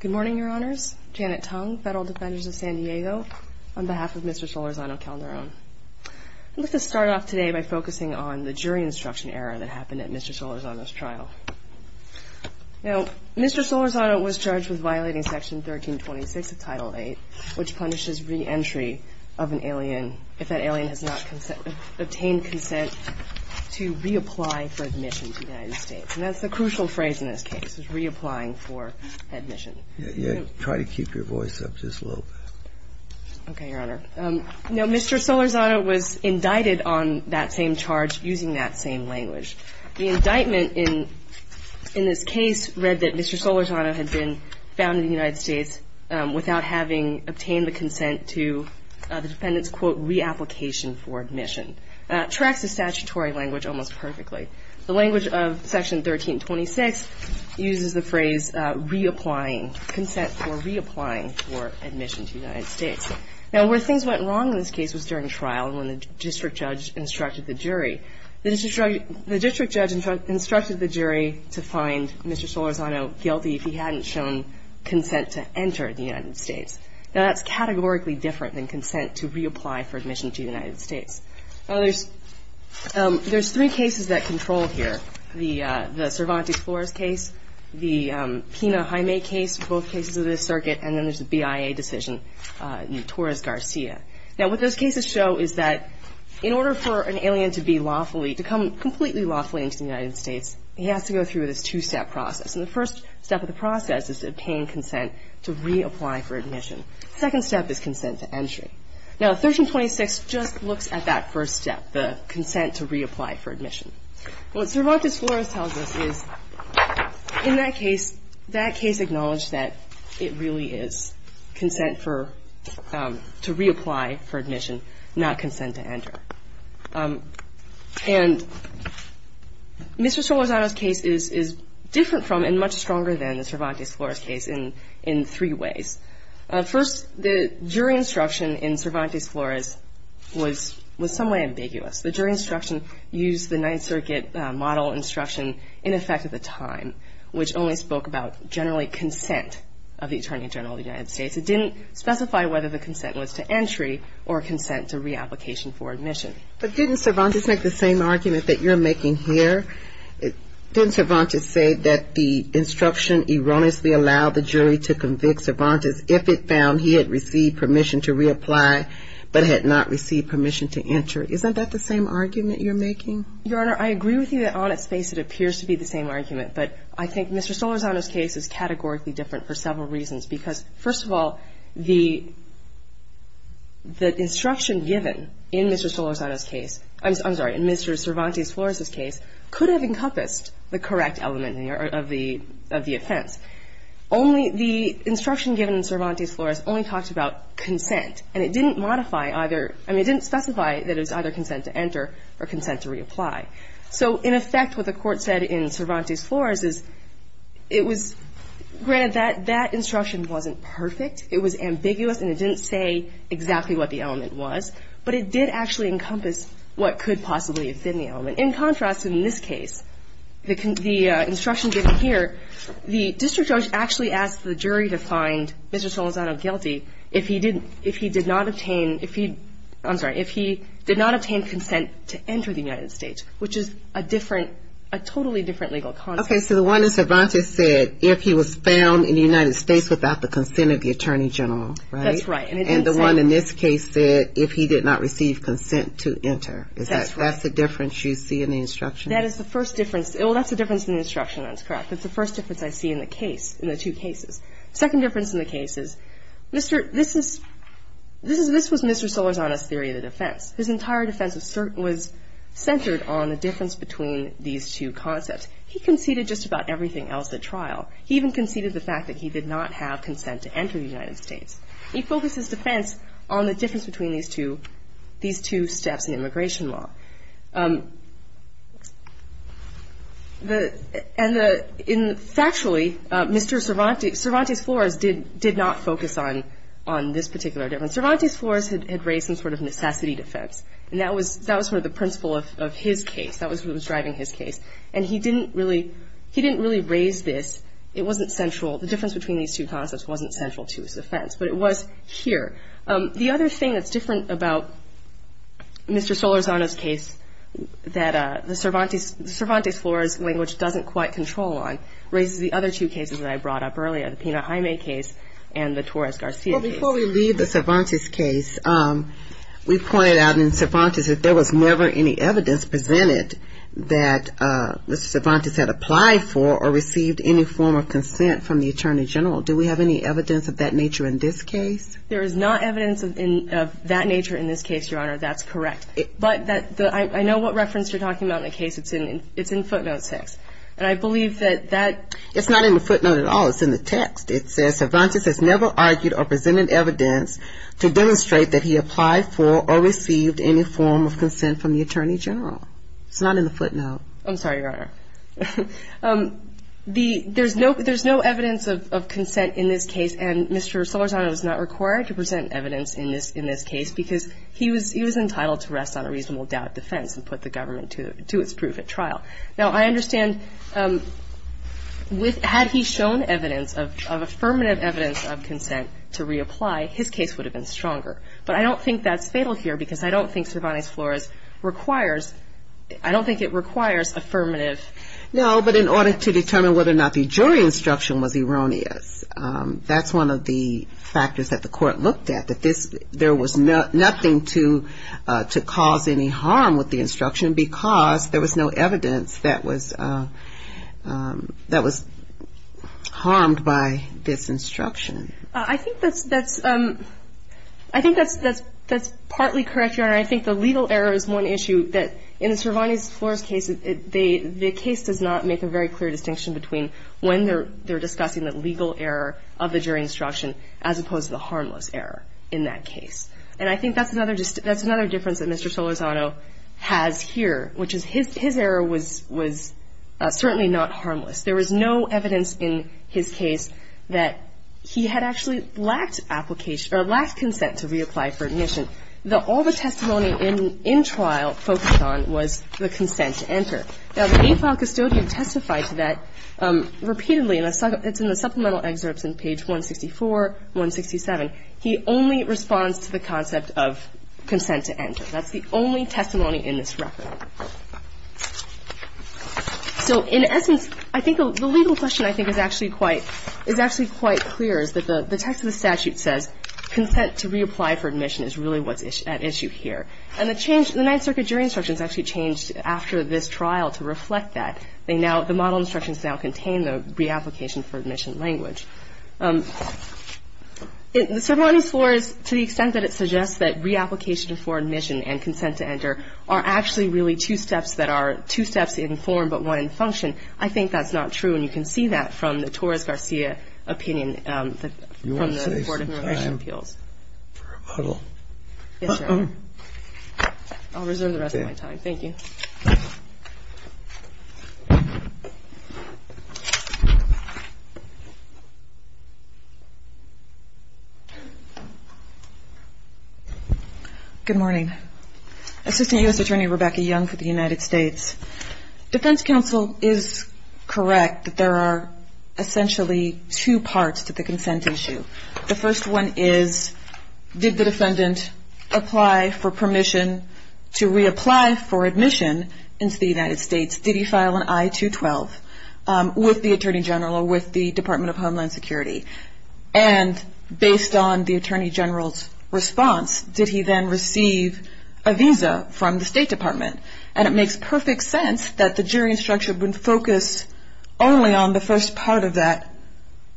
Good morning, Your Honors. Janet Tung, Federal Defenders of San Diego, on behalf of Mr. Solorzano-Calderon. I'd like to start off today by focusing on the jury instruction error that happened at Mr. Solorzano's trial. Now, Mr. Solorzano was charged with violating Section 1326 of Title VIII, which punishes reentry of an alien if that alien has not obtained consent to reapply for admission to the United States. And that's the crucial phrase in this case, is reapplying for admission. Try to keep your voice up just a little bit. Okay, Your Honor. Now, Mr. Solorzano was indicted on that same charge using that same language. The indictment in this case read that Mr. Solorzano had been found in the United States without having obtained the consent to the defendant's, quote, reapplication for admission. It tracks the statutory language almost perfectly. The language of Section 1326 uses the phrase reapplying, consent for reapplying for admission to the United States. Now, where things went wrong in this case was during trial when the district judge instructed the jury. The district judge instructed the jury to find Mr. Solorzano guilty if he hadn't shown consent to enter the United States. Now, that's categorically different than consent to reapply for admission to the United States. Now, there's three cases that control here, the Cervantes-Flores case, the Pena-Jaime case, both cases of this circuit, and then there's the BIA decision, Torres-Garcia. Now, what those cases show is that in order for an alien to be lawfully, to come completely lawfully into the United States, he has to go through this two-step process. And the first step of the process is to obtain consent to reapply for admission. The second step is consent to entry. Now, 1326 just looks at that first step, the consent to reapply for admission. What Cervantes-Flores tells us is in that case, that case acknowledged that it really is consent to reapply for admission, not consent to enter. And Mr. Solorzano's case is different from and much stronger than the Cervantes-Flores case in three ways. First, the jury instruction in Cervantes-Flores was in some way ambiguous. The jury instruction used the Ninth Circuit model instruction in effect at the time, which only spoke about generally consent of the Attorney General of the United States. It didn't specify whether the consent was to entry or consent to reapplication for admission. But didn't Cervantes make the same argument that you're making here? Didn't Cervantes say that the instruction erroneously allowed the jury to convict Cervantes if it found he had received permission to reapply but had not received permission to enter? Isn't that the same argument you're making? Your Honor, I agree with you that on its face it appears to be the same argument. But I think Mr. Solorzano's case is categorically different for several reasons. Because, first of all, the instruction given in Mr. Solorzano's case, I'm sorry, in Mr. Cervantes-Flores's case could have encompassed the correct element of the offense. Only the instruction given in Cervantes-Flores only talked about consent. And it didn't modify either – I mean, it didn't specify that it was either consent to enter or consent to reapply. So, in effect, what the Court said in Cervantes-Flores is it was – granted, that instruction wasn't perfect. It was ambiguous and it didn't say exactly what the element was. But it did actually encompass what could possibly have been the element. In contrast, in this case, the instruction given here, the district judge actually asked the jury to find Mr. Solorzano guilty if he did not obtain – if he – I'm sorry, if he did not obtain consent to enter the United States, which is a different – a totally different legal concept. Okay. So the one in Cervantes said if he was found in the United States without the consent of the Attorney General. Right? That's right. And it didn't say – And the one in this case said if he did not receive consent to enter. That's right. Is that – that's the difference you see in the instruction? That is the first difference – well, that's the difference in the instruction. That's correct. That's the first difference I see in the case – in the two cases. Second difference in the case is Mr. – this is – this was Mr. Solorzano's theory of the defense. His entire defense was centered on the difference between these two concepts. He conceded just about everything else at trial. He even conceded the fact that he did not have consent to enter the United States. He focused his defense on the difference between these two – these two steps in immigration law. The – and the – in – factually, Mr. Cervantes – Cervantes Flores did not focus on this particular difference. Cervantes Flores had raised some sort of necessity defense. And that was – that was sort of the principle of his case. That was what was driving his case. And he didn't really – he didn't really raise this. It wasn't central. The difference between these two concepts wasn't central to his offense. But it was here. The other thing that's different about Mr. Solorzano's case that the Cervantes – Cervantes Flores language doesn't quite control on raises the other two cases that I brought up earlier, the Pena-Jaime case and the Torres-Garcia case. Well, before we leave the Cervantes case, we pointed out in Cervantes that there was never any evidence presented that Mr. Cervantes had applied for or received any form of consent from the attorney general. Do we have any evidence of that nature in this case? There is not evidence of that nature in this case, Your Honor. That's correct. But I know what reference you're talking about in the case. It's in footnote 6. And I believe that that – It's not in the footnote at all. It's in the text. It says, Cervantes has never argued or presented evidence to demonstrate that he applied for or received any form of consent from the attorney general. It's not in the footnote. I'm sorry, Your Honor. There's no evidence of consent in this case, and Mr. Solorzano was not required to present evidence in this case because he was entitled to rest on a reasonable doubt of defense and put the government to its proof at trial. Now, I understand with – had he shown evidence of affirmative evidence of consent to reapply, his case would have been stronger. But I don't think that's fatal here because I don't think Cervantes Flores requires – I don't think it requires affirmative. No, but in order to determine whether or not the jury instruction was erroneous, that's one of the factors that the court looked at, that this – there was nothing to cause any harm with the instruction because there was no evidence that was harmed by this instruction. I think that's – I think that's partly correct, Your Honor. And I think the legal error is one issue that in Cervantes Flores' case, the case does not make a very clear distinction between when they're discussing the legal error of the jury instruction as opposed to the harmless error in that case. And I think that's another – that's another difference that Mr. Solorzano has here, which is his error was certainly not harmless. There was no evidence in his case that he had actually lacked application or lacked consent to reapply for admission. All the testimony in trial focused on was the consent to enter. Now, the eight-file custodian testified to that repeatedly. It's in the supplemental excerpts in page 164, 167. He only responds to the concept of consent to enter. That's the only testimony in this record. So in essence, I think the legal question I think is actually quite – is actually quite clear is that the text of the statute says consent to reapply for admission is really what's at issue here. And the change – the Ninth Circuit jury instructions actually changed after this trial to reflect that. They now – the model instructions now contain the reapplication for admission language. In Cervantes Flores, to the extent that it suggests that reapplication for admission and consent to enter are actually really two steps that are – two steps in form, but one in function, I think that's not true. And you can see that from the Torres-Garcia opinion from the Board of Immigration Appeals. I'll reserve the rest of my time. Thank you. Good morning. Assistant U.S. Attorney Rebecca Young for the United States. Defense counsel is correct that there are essentially two parts to the consent issue. The first one is did the defendant apply for permission to reapply for admission into the United States? Did he file an I-212 with the Attorney General or with the Department of Homeland Security? And based on the Attorney General's response, did he then receive a visa from the State Department? And it makes perfect sense that the jury instruction would focus only on the first part of that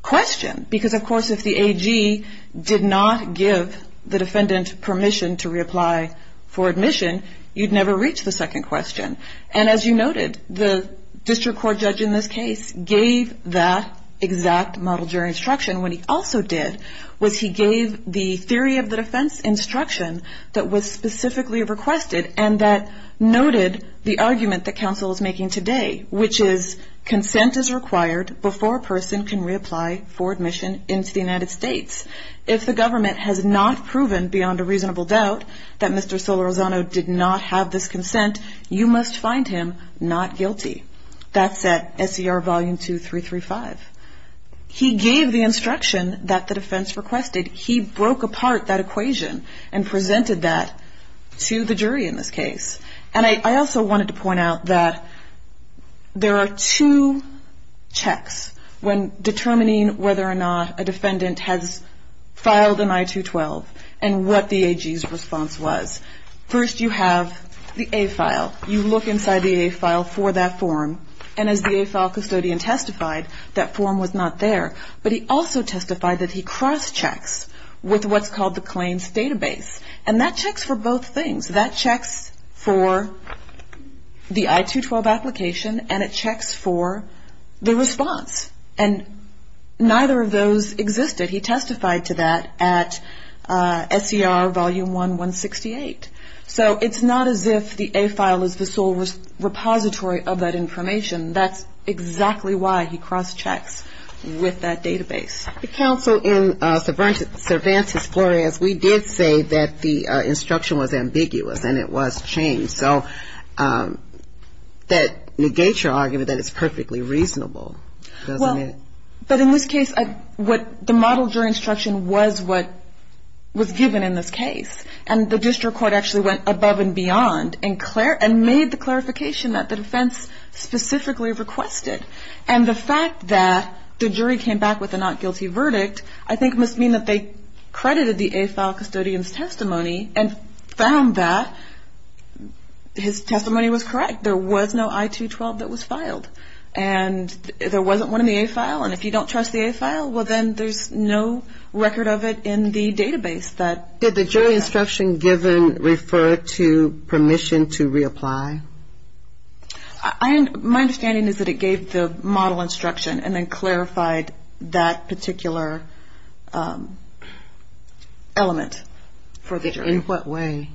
question because, of course, if the AG did not give the defendant permission to reapply for admission, you'd never reach the second question. And as you noted, the district court judge in this case gave that exact model jury instruction. What he also did was he gave the theory of the defense instruction that was noted the argument that counsel is making today, which is consent is required before a person can reapply for admission into the United States. If the government has not proven beyond a reasonable doubt that Mr. Solorzano did not have this consent, you must find him not guilty. That's at SER Volume 2335. He gave the instruction that the defense requested. He broke apart that equation and presented that to the jury in this case. And I also wanted to point out that there are two checks when determining whether or not a defendant has filed an I-212 and what the AG's response was. First, you have the A file. You look inside the A file for that form. And as the A file custodian testified, that form was not there. But he also testified that he cross-checks with what's called the claims database. And that checks for both things. That checks for the I-212 application, and it checks for the response. And neither of those existed. He testified to that at SER Volume 1168. So it's not as if the A file is the sole repository of that information. That's exactly why he cross-checks with that database. The counsel in Cervantes-Flores, we did say that the instruction was ambiguous and it was changed. So that negates your argument that it's perfectly reasonable, doesn't it? Well, but in this case, what the model jury instruction was what was given in this case. And the district court actually went above and beyond and made the clarification that the defense specifically requested. And the fact that the jury came back with a not guilty verdict, I think must mean that they credited the A file custodian's testimony and found that his testimony was correct. There was no I-212 that was filed. And there wasn't one in the A file. And if you don't trust the A file, well, then there's no record of it in the database. Did the jury instruction given refer to permission to reapply? My understanding is that it gave the model instruction and then clarified that particular element for the jury. In what way?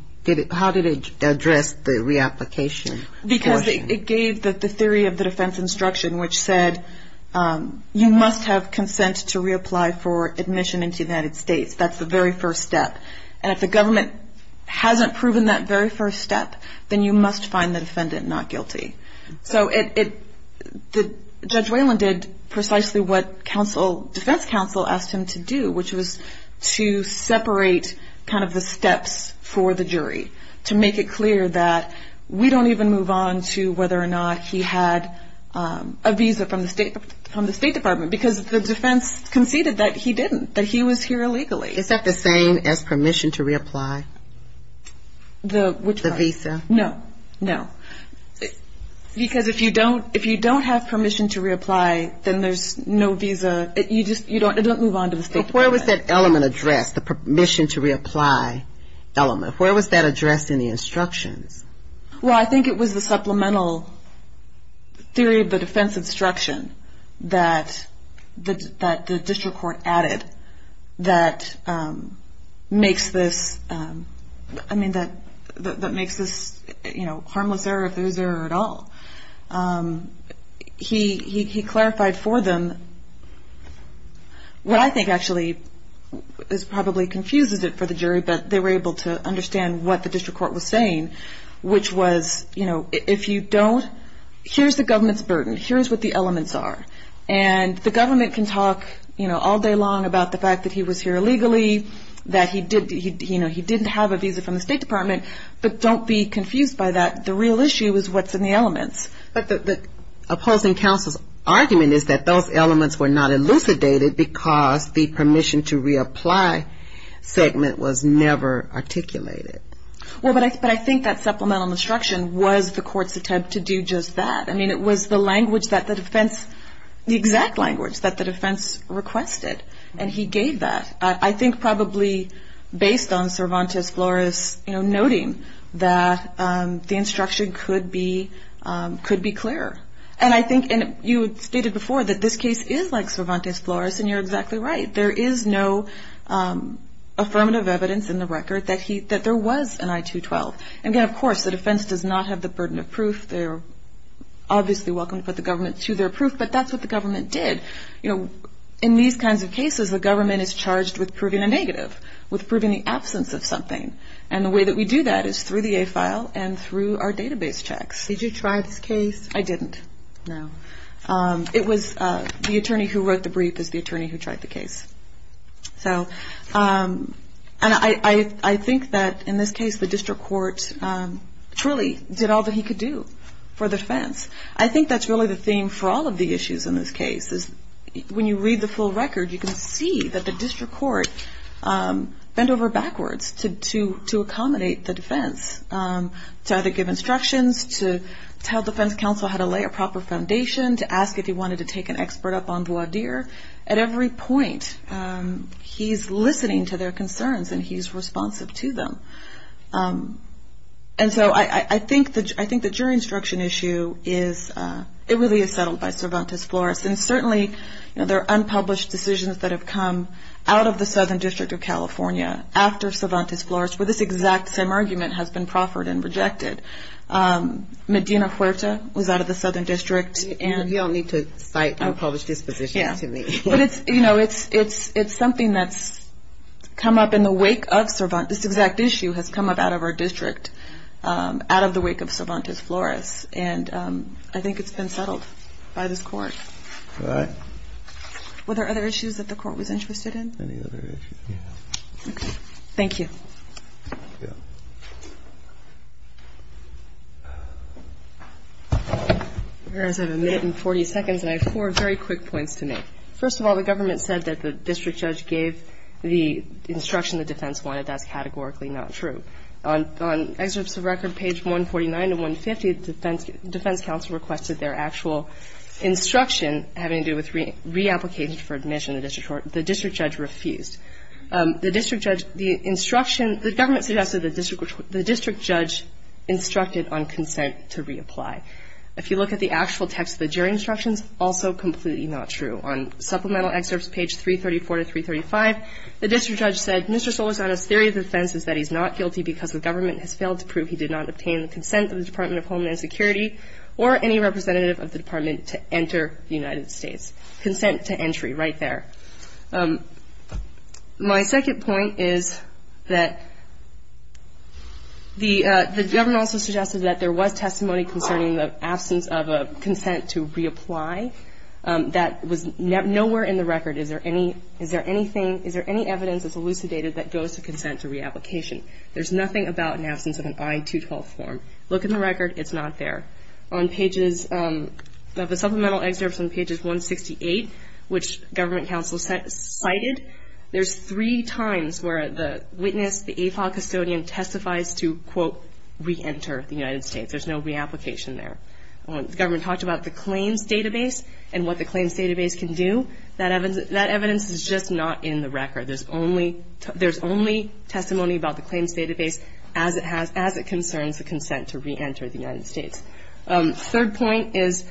How did it address the reapplication? Because it gave the theory of the defense instruction, which said you must have consent to reapply for admission into the United States. That's the very first step. And if the government hasn't proven that very first step, then you must find the defendant not guilty. So Judge Whalen did precisely what defense counsel asked him to do, which was to separate kind of the steps for the jury, to make it clear that we don't even move on to whether or not he had a visa from the State Department, because the defense conceded that he didn't, that he was here illegally. Is that the same as permission to reapply? The visa? No, no. Because if you don't have permission to reapply, then there's no visa. You don't move on to the State Department. Where was that element addressed, the permission to reapply element? Where was that addressed in the instructions? Well, I think it was the supplemental theory of the defense instruction that the district court added that makes this harmless error if there is error at all. He clarified for them what I think actually probably confuses it for the jury, but they were able to understand what the district court was saying, which was if you don't, here's the government's burden. Here's what the elements are. And the government can talk all day long about the fact that he was here illegally, that he didn't have a visa from the State Department, but don't be confused by that. The real issue is what's in the elements. But the opposing counsel's argument is that those elements were not elucidated because the permission to reapply segment was never articulated. Well, but I think that supplemental instruction was the court's attempt to do just that. I mean, it was the language that the defense, the exact language that the defense requested, and he gave that. I think probably based on Cervantes-Flores noting that the instruction could be clearer. And I think you stated before that this case is like Cervantes-Flores, and you're exactly right. There is no affirmative evidence in the record that there was an I-212. And, again, of course, the defense does not have the burden of proof. They're obviously welcome to put the government to their proof, but that's what the government did. In these kinds of cases, the government is charged with proving a negative, with proving the absence of something. And the way that we do that is through the A file and through our database checks. Did you try this case? I didn't, no. It was the attorney who wrote the brief is the attorney who tried the case. So, and I think that in this case the district court truly did all that he could do for the defense. I think that's really the theme for all of the issues in this case is when you read the full record, you can see that the district court bent over backwards to accommodate the defense to either give instructions, to tell defense counsel how to lay a proper foundation, to ask if he wanted to take an expert up on voir dire. At every point, he's listening to their concerns and he's responsive to them. And so I think the jury instruction issue is, it really is settled by Cervantes-Flores. And certainly there are unpublished decisions that have come out of the Southern District of California after Cervantes-Flores where this exact same argument has been proffered and rejected. Medina Huerta was out of the Southern District. You don't need to cite unpublished dispositions to me. But it's, you know, it's something that's come up in the wake of Cervantes, this exact issue has come up out of our district, out of the wake of Cervantes-Flores. And I think it's been settled by this court. All right. Were there other issues that the court was interested in? Any other issues? Yeah. Okay. Thank you. Thank you. I have a minute and 40 seconds, and I have four very quick points to make. First of all, the government said that the district judge gave the instruction the defense wanted. That's categorically not true. On excerpts of record, page 149 to 150, defense counsel requested their actual instruction having to do with reapplication for admission. The district judge refused. The district judge, the instruction, the government suggested the district judge instructed on consent to reapply. If you look at the actual text of the jury instructions, also completely not true. On supplemental excerpts, page 334 to 335, the district judge said, Mr. Solisano's theory of defense is that he's not guilty because the government has failed to prove he did not obtain the consent of the Department of Homeland Security or any representative of the department to enter the United States. Consent to entry, right there. My second point is that the government also suggested that there was testimony concerning the absence of a consent to reapply that was nowhere in the record. Is there any evidence that's elucidated that goes to consent to reapplication? There's nothing about an absence of an I-212 form. Look in the record. It's not there. On pages of the supplemental excerpts on pages 168, which government counsel cited, there's three times where the witness, the AFOL custodian, testifies to, quote, reenter the United States. There's no reapplication there. The government talked about the claims database and what the claims database can do. That evidence is just not in the record. The third point is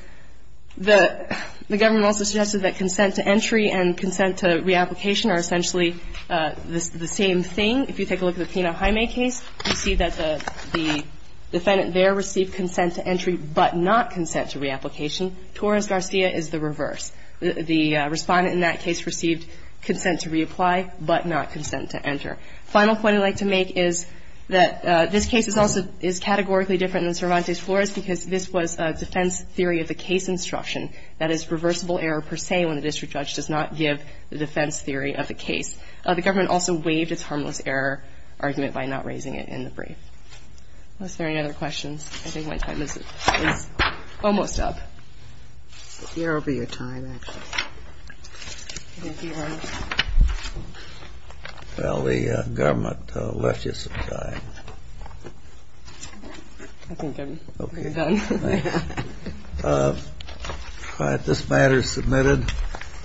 that the government also suggested that consent to entry and consent to reapplication are essentially the same thing. If you take a look at the Pena-Jaime case, you see that the defendant there received consent to entry but not consent to reapplication. Torres-Garcia is the reverse. The Respondent in that case received consent to reapply but not consent to enter. Final point I'd like to make is that this case is also, is categorically different than Cervantes-Flores because this was a defense theory of the case instruction. That is reversible error per se when the district judge does not give the defense theory of the case. The government also waived its harmless error argument by not raising it in the brief. Are there any other questions? I think my time is almost up. Here will be your time, actually. Thank you, Your Honor. Well, the government left you some time. I think I'm pretty done. All right. This matter is submitted.